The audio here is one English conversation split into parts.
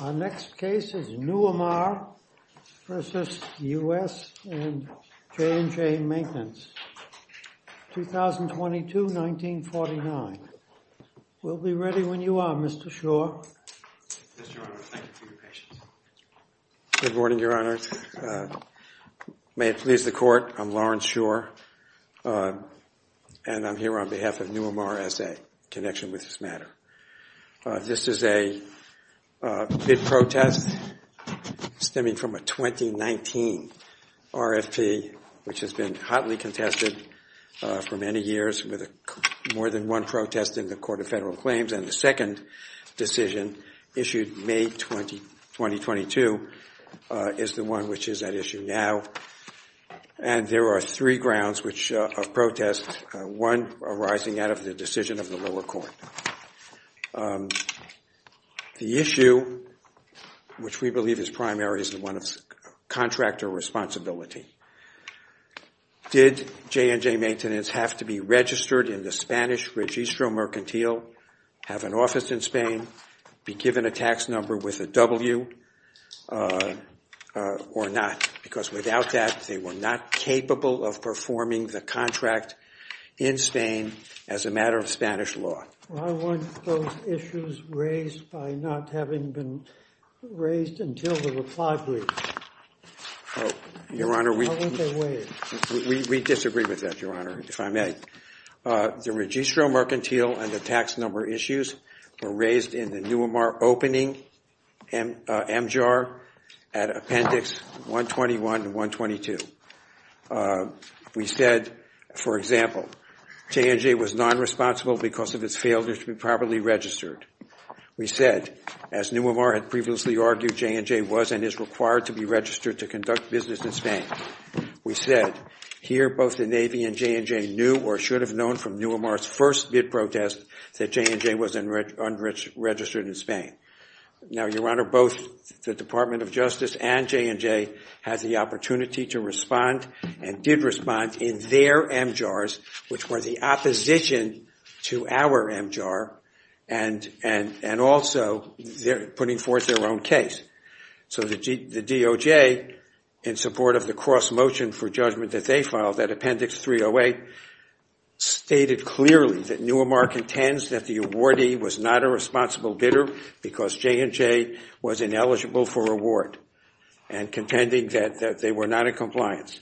Our next case is Newimar v. U.S. and J&J Maintenance, 2022-1949. We'll be ready when you are, Mr. Schor. Yes, Your Honor. Thank you for your patience. Good morning, Your Honor. May it please the Court, I'm Lawrence Schor, and I'm here on behalf of Newimar S.A., in connection with this matter. This is a bid protest stemming from a 2019 RFP, which has been hotly contested for many years, with more than one protest in the Court of Federal Claims. And the second decision, issued May 2022, is the one which is at issue now. And there are three grounds of protest, one arising out of the decision of the lower court. The issue, which we believe is primary, is the one of contractor responsibility. Did J&J Maintenance have to be registered in the Spanish Registro Mercantil, have an office in Spain, be given a tax number with a W, or not? Because without that, they were not capable of performing the contract in Spain as a matter of Spanish law. Why weren't those issues raised by not having been raised until the reply brief? Oh, Your Honor, we disagree with that, Your Honor, if I may. The Registro Mercantil and the tax number issues were raised in the Newimar opening MGR at Appendix 121 and 122. We said, for example, J&J was nonresponsible because of its failure to be properly registered. We said, as Newimar had previously argued J&J was and is required to be registered to conduct business in Spain, we said, here, both the Navy and J&J knew, or should have known from Newimar's first bid protest, that J&J was unregistered in Spain. Now, Your Honor, both the Department of Justice and J&J has the opportunity to respond and did respond in their MGRs, which were the opposition to our MGR, and also putting forth their own case. So the DOJ, in support of the cross-motion for judgment that they filed at Appendix 308, stated clearly that Newimar contends that the awardee was not a responsible bidder because J&J was ineligible for award, and contending that they were not in compliance.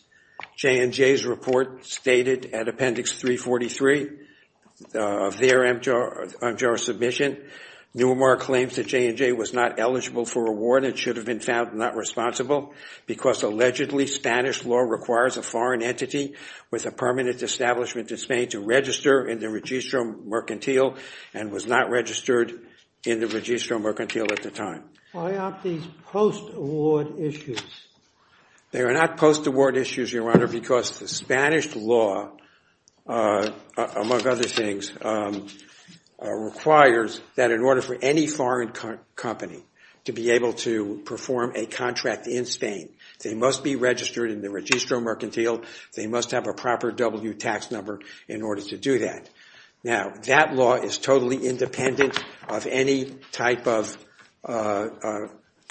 J&J's report stated at Appendix 343 of their MGR submission, Newimar claims that J&J was not eligible for award and should have been found not responsible because, allegedly, Spanish law requires a foreign entity with a permanent establishment in Spain to register in the Registro Mercantil and was not registered in the Registro Mercantil at the time. Why aren't these post-award issues? They are not post-award issues, Your Honor, because the Spanish law, among other things, requires that in order for any foreign company to be able to perform a contract in Spain, they must be registered in the Registro Mercantil. They must have a proper W tax number in order to do that. Now, that law is totally independent of any type of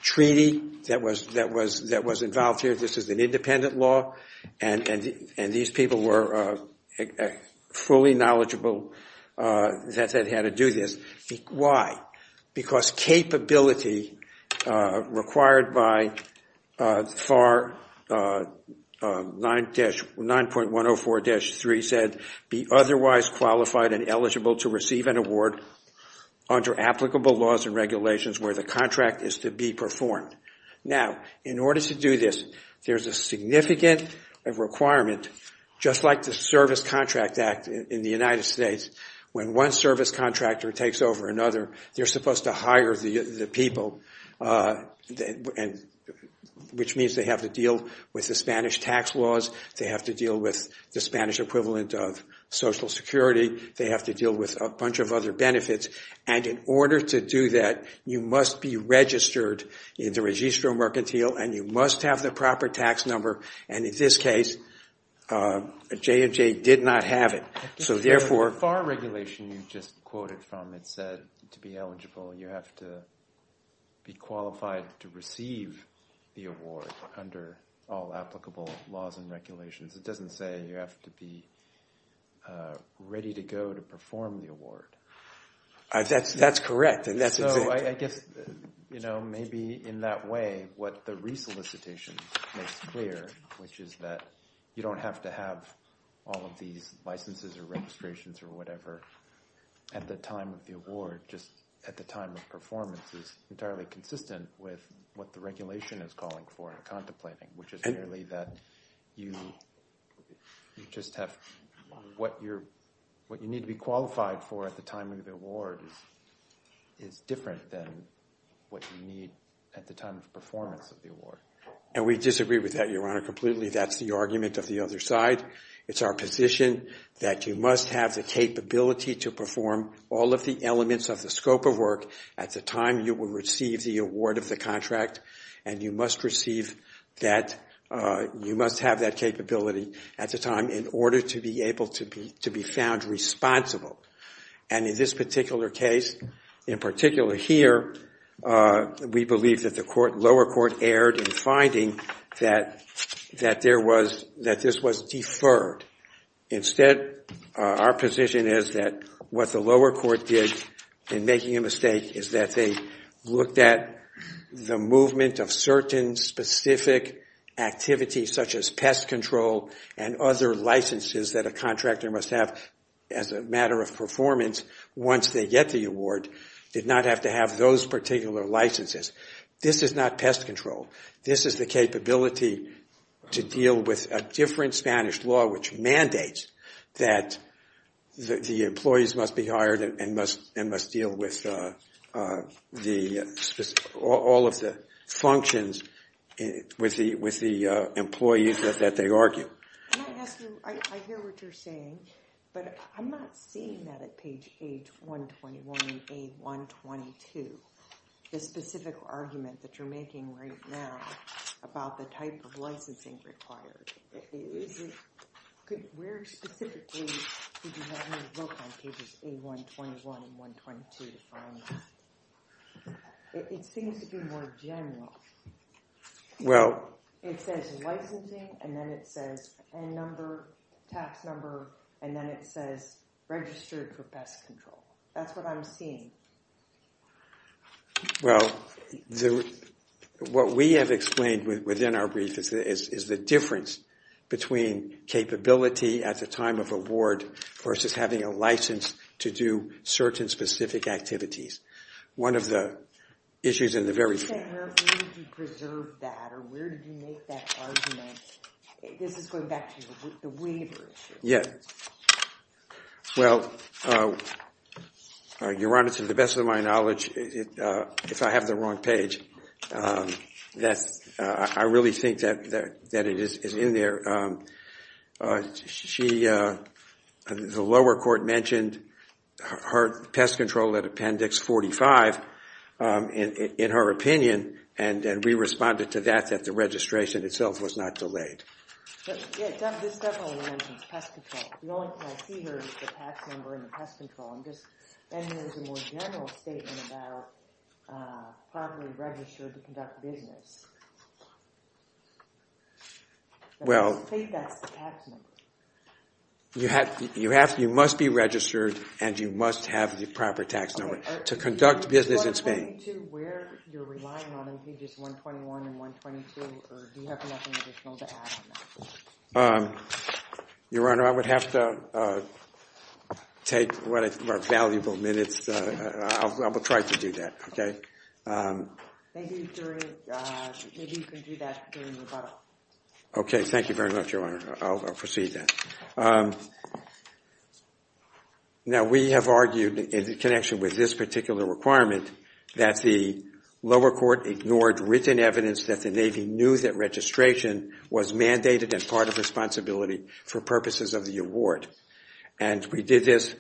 treaty that was involved here. This is an independent law, and these people were fully knowledgeable that they had to do this. Why? Because capability required by FAR 9.104-3 said, be otherwise qualified and eligible to receive an award under applicable laws and regulations where the contract is to be performed. Now, in order to do this, there's a significant requirement, just like the Service Contract Act in the United States, when one service contractor takes over another, they're supposed to hire the people, which means they have to deal with the Spanish tax laws. They have to deal with the Spanish equivalent of Social Security. They have to deal with a bunch of other benefits. And in order to do that, you must be registered in the Registro Mercantil, and you must have the proper tax number. And in this case, J&J did not have it. So therefore, FAR regulation you just quoted from, it said to be eligible, you have to be qualified to receive the award under all applicable laws and regulations. It doesn't say you have to be ready to go to perform the award. That's correct. So I guess maybe in that way, what the resolicitation makes clear, which is that you don't have to have all of these licenses or registrations or whatever at the time of the award, just at the time of performance, is entirely consistent with what the regulation is calling for and contemplating, which is merely that you just have what you need to be qualified for at the time of the award is different than what you need at the time of performance of the award. And we disagree with that, Your Honor, completely. That's the argument of the other side. It's our position that you must have the capability to perform all of the elements of the scope of work at the time you will receive the award of the contract, and you must have that capability at the time in order to be able to be found responsible. And in this particular case, in particular here, we believe that the lower court erred in finding that this was deferred. Instead, our position is that what the lower court did in making a mistake is that they looked at the movement of certain specific activities, such as pest control and other licenses that a contractor must have as a matter of performance once they get the award, did not have to have those particular licenses. This is not pest control. This is the capability to deal with a different Spanish law which mandates that the employees must be hired and must deal with all of the functions with the employees that they argue. I hear what you're saying, but I'm not seeing that at page 121 and A122. The specific argument that you're making right now about the type of licensing required, where specifically did you have him look on pages A121 and 122 to find that? It seems to be more general. It says licensing, and then it says N number, tax number, and then it says registered for pest control. That's what I'm seeing. Well, what we have explained within our brief is the difference between capability at the time of award versus having a license to do certain specific activities. One of the issues in the very first. You said, where did you preserve that, or where did you make that argument? This is going back to the waiver issue. Yeah. Well, Your Honor, to the best of my knowledge, if I have the wrong page, I really think that it is in there. The lower court mentioned pest control at appendix 45, in her opinion, and we responded to that, that the registration itself was not delayed. Yeah, this definitely mentions pest control. The only thing I see here is the tax number and the pest control. And here's a more general statement about properly registered to conduct business. Well, you must be registered, and you must have the proper tax number to conduct business in Spain. Is 122 where you're relying on in pages 121 and 122, or do you have nothing additional to add on that? Your Honor, I would have to take what are valuable minutes. I will try to do that, OK? Maybe you can do that during the rebuttal. OK, thank you very much, Your Honor. I'll proceed then. Now, we have argued, in connection with this particular requirement, that the lower court ignored written evidence that the Navy knew that registration was mandated as part of responsibility for purposes of the award. And we did this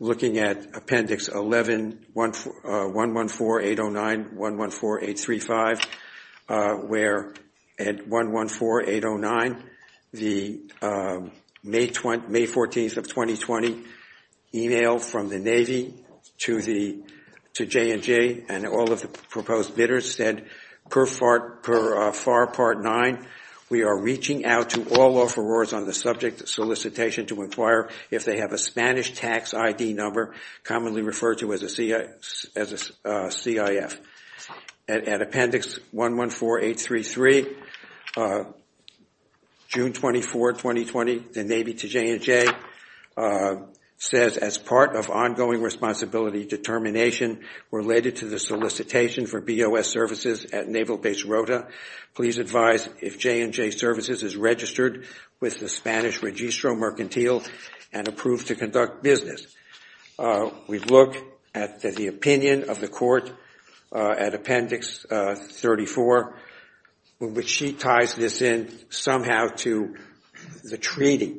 looking at Appendix 114809, 114835, where at 114809, the May 14th of 2020, email from the Navy to J&J and all of the proposed bidders said, per FAR Part 9, we are reaching out to all offerors on the subject solicitation to inquire if they have a Spanish tax ID number, commonly referred to as a CIF. At Appendix 114833, June 24, 2020, the Navy to J&J says, as part of ongoing responsibility determination related to the solicitation for BOS services at Naval Base registered with the Spanish Registro Mercantile and approved to conduct business. We've looked at the opinion of the court at Appendix 34, which she ties this in somehow to the treaty.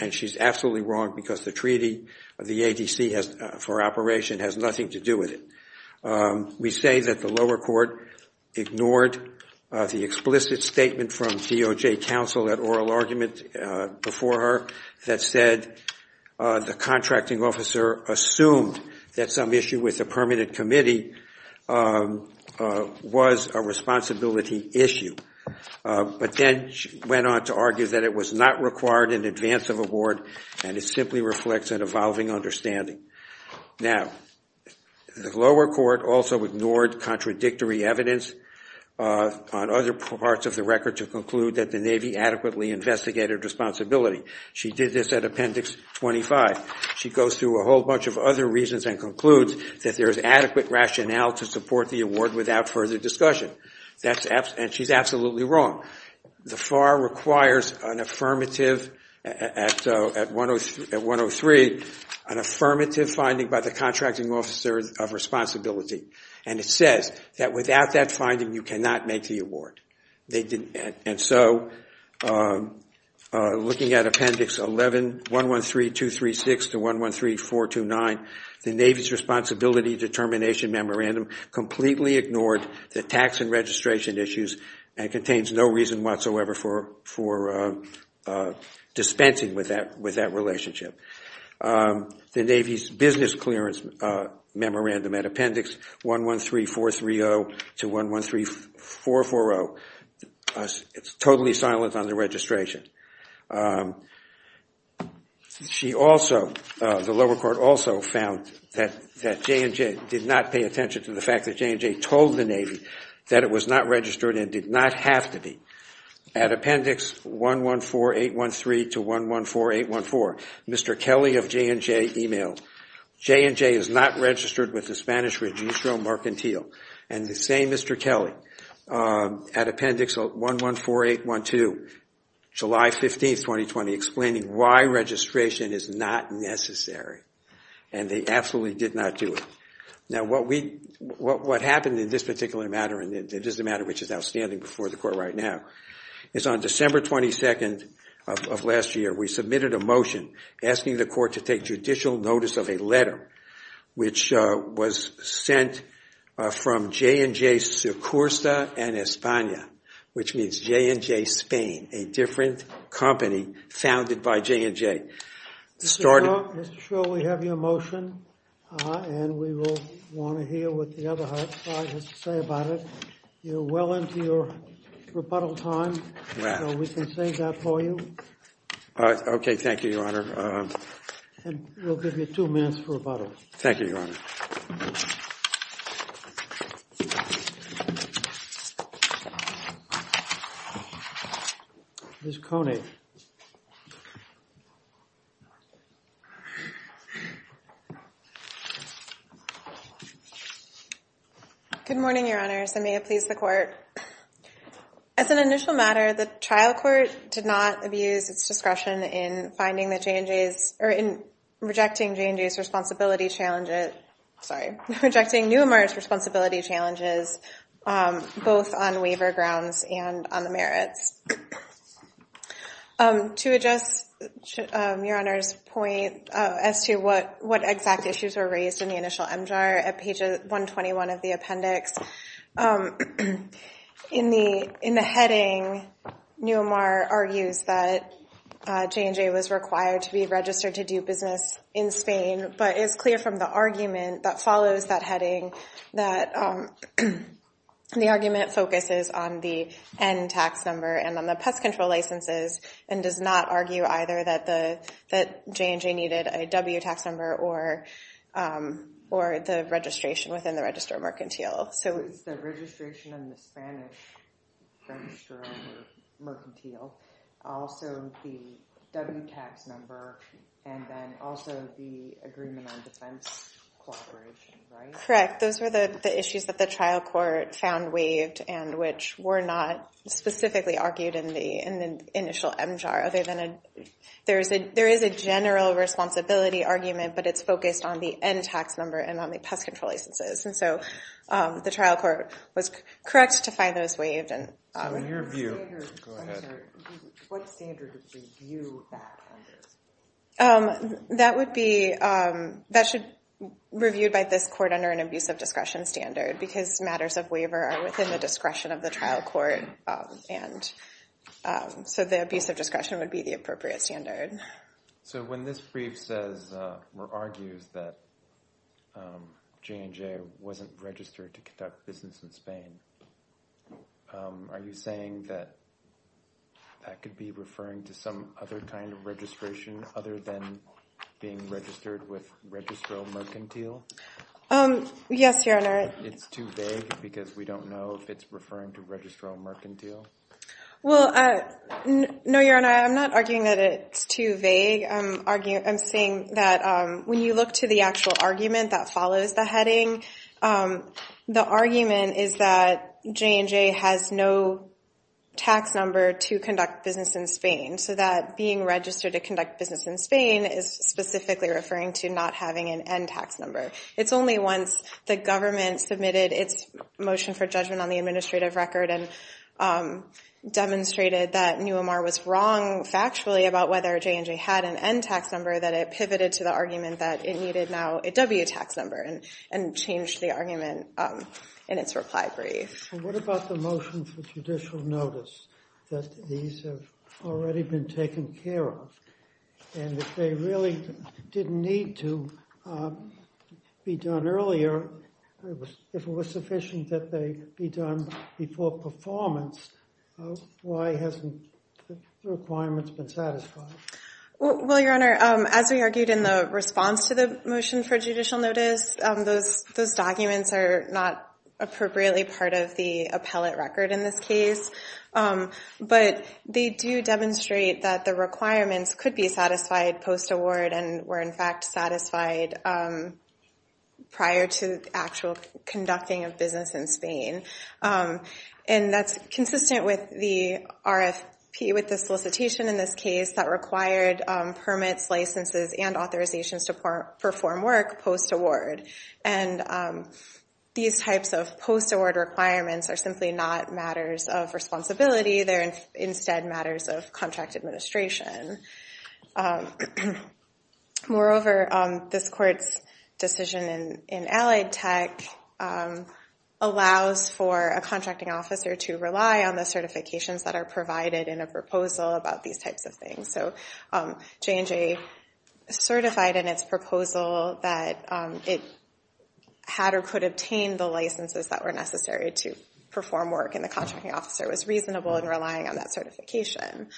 And she's absolutely wrong, because the treaty of the ADC for operation has nothing to do with it. We say that the lower court ignored the explicit statement from DOJ counsel at oral argument before her that said the contracting officer assumed that some issue with the permanent committee was a responsibility issue. But then she went on to argue that it was not required in advance of award, and it simply reflects an evolving understanding. Now, the lower court also ignored contradictory evidence on other parts of the record to conclude that the Navy adequately investigated responsibility. She did this at Appendix 25. She goes through a whole bunch of other reasons and concludes that there is adequate rationale to support the award without further discussion. And she's absolutely wrong. The FAR requires an affirmative at 103, an affirmative finding by the contracting officer of responsibility. And it says that without that finding, you cannot make the award. And so looking at Appendix 11, 113.236 to 113.429, the Navy's responsibility determination memorandum completely ignored the tax and registration issues and contains no reason whatsoever for dispensing with that relationship. The Navy's business clearance memorandum at Appendix 113430 to 113440, it's totally silent on the registration. The lower court also found that J&J did not pay attention to the fact that J&J told the Navy that it was not registered and did not have to be. At Appendix 114813 to 114814, Mr. Kelly of J&J emailed, J&J is not registered with the Spanish Registro Mercantile. And the same Mr. Kelly at Appendix 114812, July 15, 2020, explaining why registration is not necessary. And they absolutely did not do it. Now what happened in this particular matter, and it is a matter which is outstanding before the court right now, is on December 22nd of last year, we submitted a motion asking the court to take judicial notice of a letter which was sent from J&J Secursa en España, which means J&J Spain, a different company founded by J&J. Mr. Shaw, we have your motion, and we will want to hear what the other side has to say about it. You're well into your rebuttal time, so we can save that for you. OK, thank you, Your Honor. And we'll give you two minutes for rebuttal. Thank you, Your Honor. Ms. Konek. Good morning, Your Honors. And may it please the court. As an initial matter, the trial court did not abuse its discretion in finding the J&J's, or in rejecting J&J's responsibility challenges, sorry, rejecting numerous responsibility challenges, both on waiver grounds and on the merits. To address Your Honor's point as to what exact issues were raised, in the heading, Neumar argues that J&J was required to be registered to do business in Spain, but it's clear from the argument that follows that heading that the argument focuses on the N tax number and on the pest control licenses, and does not argue either that J&J needed a W tax number or the registration within the register of mercantile. So it's the registration in the Spanish register of mercantile, also the W tax number, and then also the agreement on defense cooperation, right? Correct. Those were the issues that the trial court found waived, and which were not specifically argued in the initial MJAR. There is a general responsibility argument, but it's focused on the N tax number and on the pest control licenses. And so the trial court was correct to find those waived. So in your view, what standard would we view that under? That would be reviewed by this court under an abuse of discretion standard, because matters of waiver are within the discretion of the trial court. And so the abuse of discretion would be the appropriate standard. So when this brief argues that J&J wasn't registered to conduct business in Spain, are you saying that that could be referring to some other kind of registration other than being registered with registral mercantile? Yes, Your Honor. It's too vague, because we don't know if it's referring to registral mercantile? Well, no, Your Honor. I'm not arguing that it's too vague. I'm saying that when you look to the actual argument that follows the heading, the argument is that J&J has no tax number to conduct business in Spain. So that being registered to conduct business in Spain is specifically referring to not having an N tax number. It's only once the government submitted its motion for judgment on the administrative record and demonstrated that Neumar was wrong factually about whether J&J had an N tax number that it pivoted to the argument that it needed now a W tax number and changed the argument in its reply brief. What about the motion for judicial notice that these have already been taken care of? And if they really didn't need to be done earlier, if it was sufficient that they be done before performance, why hasn't the requirements been satisfied? Well, Your Honor, as we argued in the response to the motion for judicial notice, those documents are not appropriately part of the appellate record in this case. But they do demonstrate that the requirements could be satisfied post-award and were, in fact, satisfied prior to actual conducting of business in Spain. And that's consistent with the RFP, with the solicitation in this case that required permits, licenses, and authorizations to perform work post-award. And these types of post-award requirements are simply not matters of responsibility. They're instead matters of contract administration. Moreover, this court's decision in Allied Tech allows for a contracting officer to rely on the certifications that are provided in a proposal about these types of things. So J&J certified in its proposal that it had or could obtain the licenses that were necessary to perform work. And the contracting officer was reasonable in relying on that certification.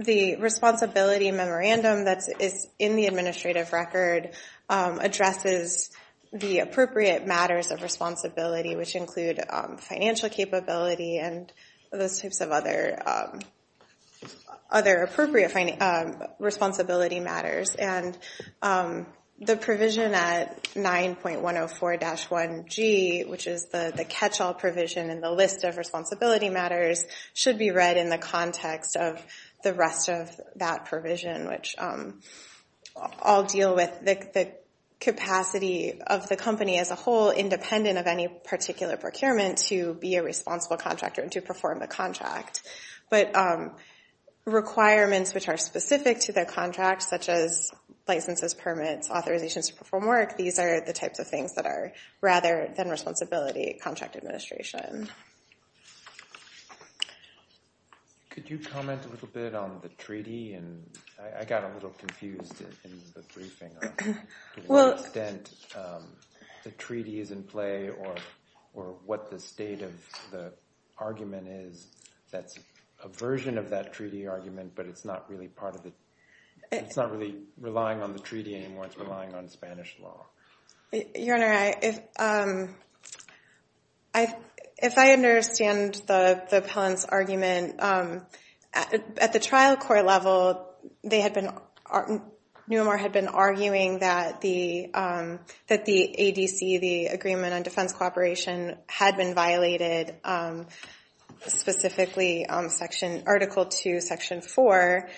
The responsibility memorandum that is in the administrative record addresses the appropriate matters of responsibility, which include financial capability and those types of other appropriate responsibility matters. And the provision at 9.104-1G, which is the catch-all provision in the list of responsibility matters, should be read in the context of the rest of that provision, which all deal with the capacity of the company as a whole, independent of any particular procurement, to be a responsible contractor and to perform the contract. But requirements which are specific to their contract, such as licenses, permits, authorizations to perform work, these are the types of things that are rather than the case. Could you comment a little bit on the treaty? And I got a little confused in the briefing on to what extent the treaty is in play or what the state of the argument is that's a version of that treaty argument, but it's not really relying on the treaty anymore. It's relying on Spanish law. Your Honor, if I understand the appellant's argument, at the trial court level, Neumar had been arguing that the ADC, the Agreement on Defense Cooperation, had been violated, specifically Article II, Section 4.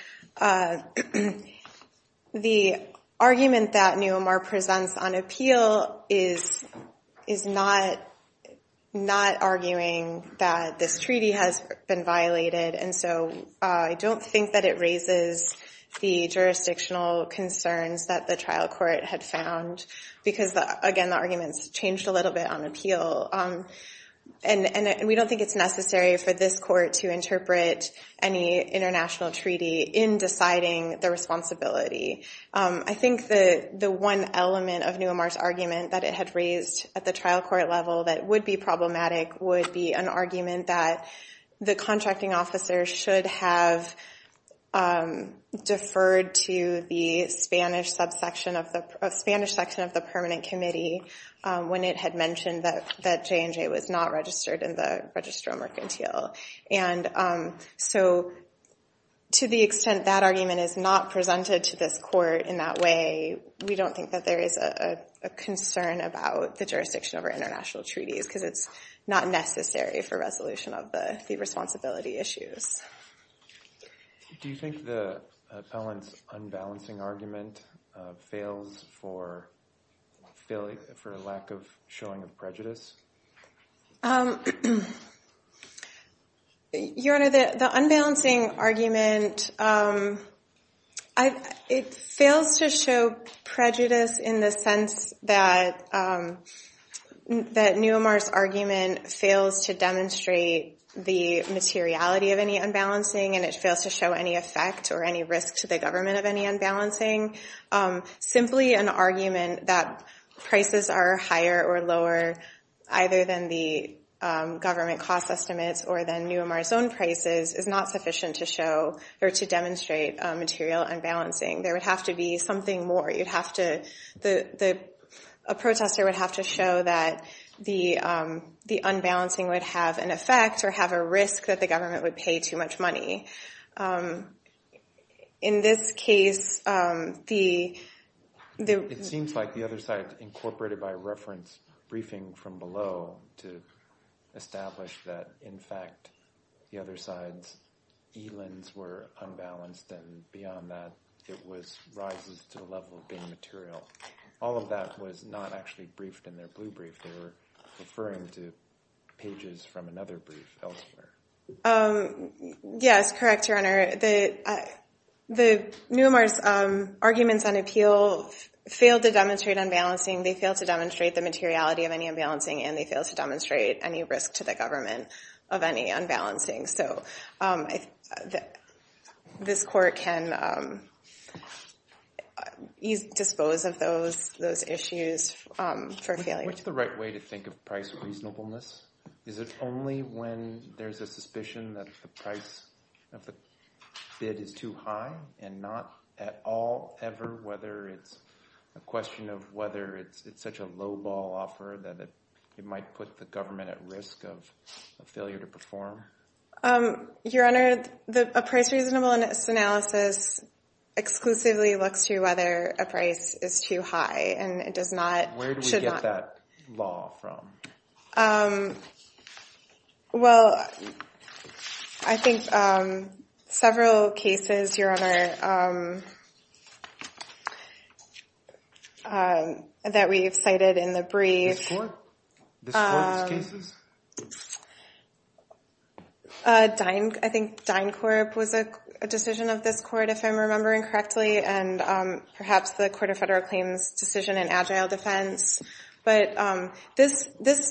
The argument that Neumar presents on appeal is not arguing that this treaty has been violated. And so I don't think that it raises the jurisdictional concerns that the trial court had found, because again, the arguments changed a little bit on appeal. And we don't think it's necessary for this court to interpret any international treaty in deciding the responsibility. I think the one element of Neumar's argument that it had raised at the trial court level that would be problematic would be an argument that the contracting officer should have deferred to the Spanish section of the permanent committee when it had mentioned that J&J was not registered in the Registro Mercantil. And so to the extent that argument is not presented to this court in that way, we don't think that there is a concern about the jurisdiction over international treaties, because it's not necessary for resolution of the responsibility issues. Do you think the appellant's unbalancing argument fails for lack of showing of prejudice? Your Honor, the unbalancing argument, it fails to show prejudice in the sense that Neumar's argument fails to demonstrate the materiality of any unbalancing, and it fails to show any effect or any risk to the government of any unbalancing. Simply an argument that prices are higher or lower, either than the government cost estimates or than Neumar's own prices, is not sufficient to show or to demonstrate material unbalancing. There would have to be something more. A protester would have to show that the unbalancing would have an effect or have a risk that the government would pay too much money. In this case, the- It seems like the other side incorporated by reference briefing from below to establish that, in fact, the other side's ELINs were unbalanced. And beyond that, it was rises to the level of being material. All of that was not actually briefed in their blue brief. They were referring to pages from another brief elsewhere. Yes, correct, Your Honor. The Neumar's arguments on appeal failed to demonstrate unbalancing. They failed to demonstrate the materiality of any unbalancing, and they failed to demonstrate any risk to the government of any unbalancing. So this court can dispose of those issues for failure. What's the right way to think of price reasonableness? Is it only when there's a suspicion that the price of the bid is too high and not at all, ever, whether it's a question of whether it's it might put the government at risk of a failure to perform? Your Honor, the price reasonableness analysis exclusively looks to whether a price is too high, and it does not, should not- Where do we get that law from? Well, I think several cases, Your Honor, that we've cited in the brief- This court's cases? I think DynCorp was a decision of this court, if I'm remembering correctly, and perhaps the Court of Federal Claims' decision in Agile Defense. But this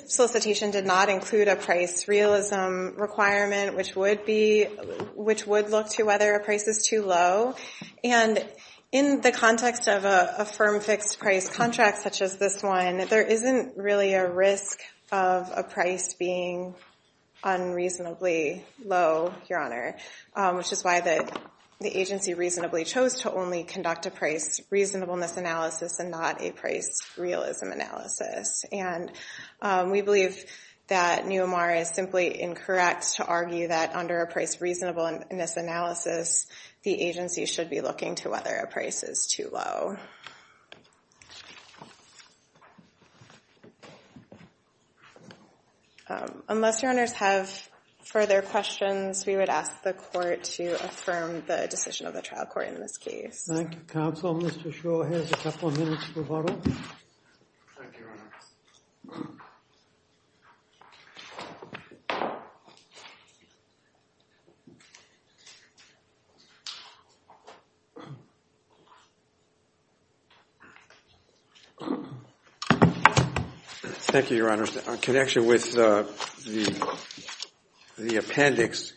solicitation did not include a price realism requirement, which would look to whether a price is too low. And in the context of a firm fixed price contract such as this one, there isn't really a risk of a price being unreasonably low, Your Honor, which is why the agency reasonably chose to only conduct a price reasonableness analysis and not a price realism analysis. And we believe that NUMR is simply incorrect to argue that under a price reasonableness analysis, the agency should be looking to whether a price is too low. Thank you. Unless Your Honors have further questions, we would ask the court to affirm the decision of the trial court in this case. Thank you, counsel. Mr. Shaw has a couple of minutes to bottle. Thank you, Your Honor. Thank you, Your Honor. In connection with the appendix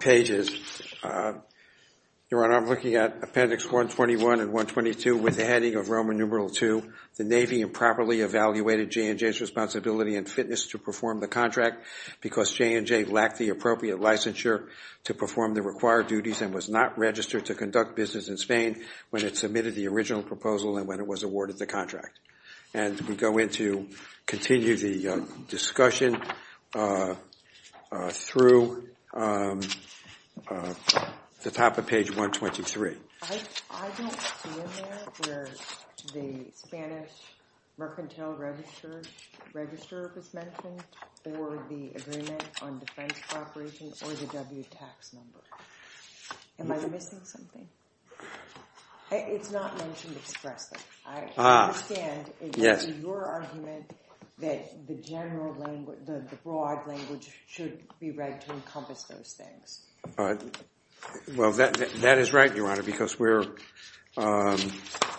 pages, Your Honor, I'm looking at appendix 121 and 122 with the heading of Roman numeral II. The Navy improperly evaluated J&J's responsibility and fitness to perform the contract because J&J lacked the appropriate licensure to perform the required duties and was not registered to conduct business in Spain when it submitted the original proposal and when it was awarded the contract. And we go in to continue the discussion through the top of page 123. I don't see in there where the Spanish mercantile register was mentioned or the agreement on defense cooperation or the W tax number. Am I missing something? It's not mentioned expressly. I understand it was your argument that the broad language should be read to encompass those things. Well, that is right, Your Honor, because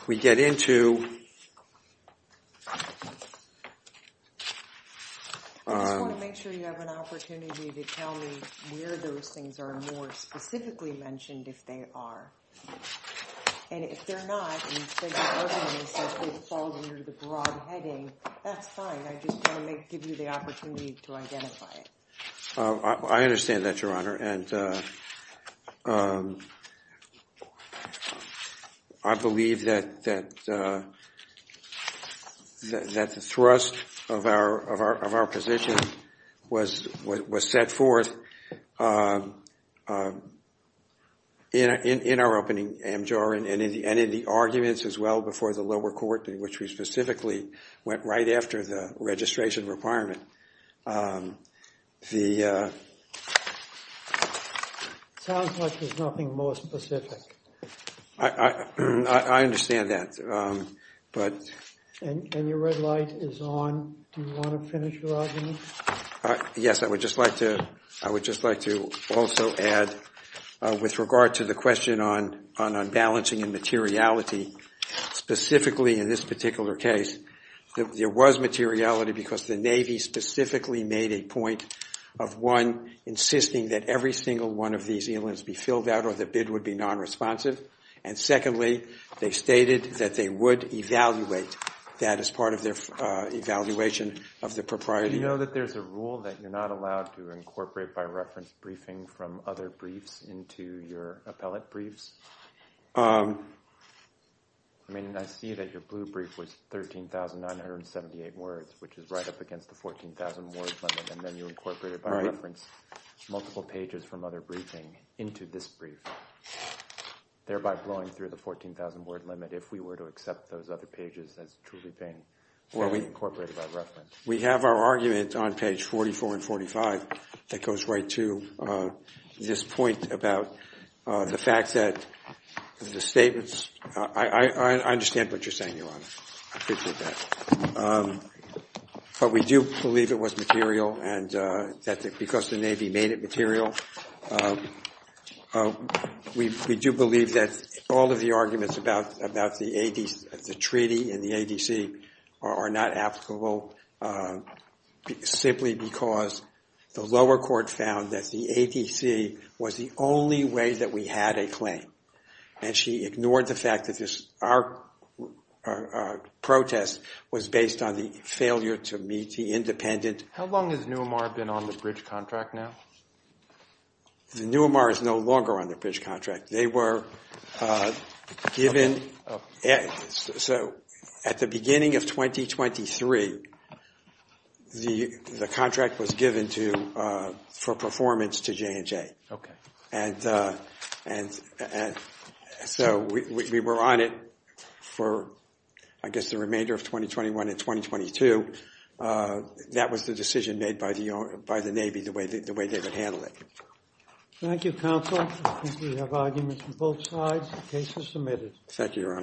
we get into. I just want to make sure you have an opportunity to tell me where those things are more specifically mentioned if they are. And if they're not, and you said your argument is that they fall under the broad heading, that's fine. I just want to give you the opportunity to identify it. I understand that, Your Honor, and I believe that the thrust of our position was set forth in our opening amjor and in the arguments as well before the lower court in which we specifically went right after the registration requirement. Sounds like there's nothing more specific. I understand that. And your red light is on. Do you want to finish your argument? Yes, I would just like to also add, with regard to the question on unbalancing and materiality, specifically in this particular case, there was materiality because the Navy specifically made a point of, one, insisting that every single one of these islands be filled out or the bid would be non-responsive. And secondly, they stated that they would evaluate that as part of their evaluation of the propriety. Do you know that there's a rule that you're not allowed to incorporate, by reference, briefing from other briefs into your appellate briefs? I mean, I see that your blue brief was 13,978 words, which is right up against the 14,000-word limit, and then you incorporated, by reference, multiple pages from other briefing into this brief, thereby blowing through the 14,000-word limit if we were to accept those other pages as truly being incorporated by reference. We have our argument on page 44 and 45 that goes right to this point about the fact that the statements, I understand what you're saying, Your Honor. I appreciate that. But we do believe it was material, and that because the Navy made it material, we do believe that all of the arguments about the treaty and the ADC are not applicable, simply because the lower court found that the ADC was the only way that we had a claim. And she ignored the fact that our protest was based on the failure to meet the independent. How long has NUMAR been on the bridge contract now? The NUMAR is no longer on the bridge contract. They were given, so at the beginning of 2023, the contract was given for performance to J&J. And so we were on it for, I guess, the remainder of 2021 and 2022. That was the decision made by the Navy, the way they would handle it. Thank you, counsel. I think we have arguments on both sides. The case is submitted. Thank you, Your Honor.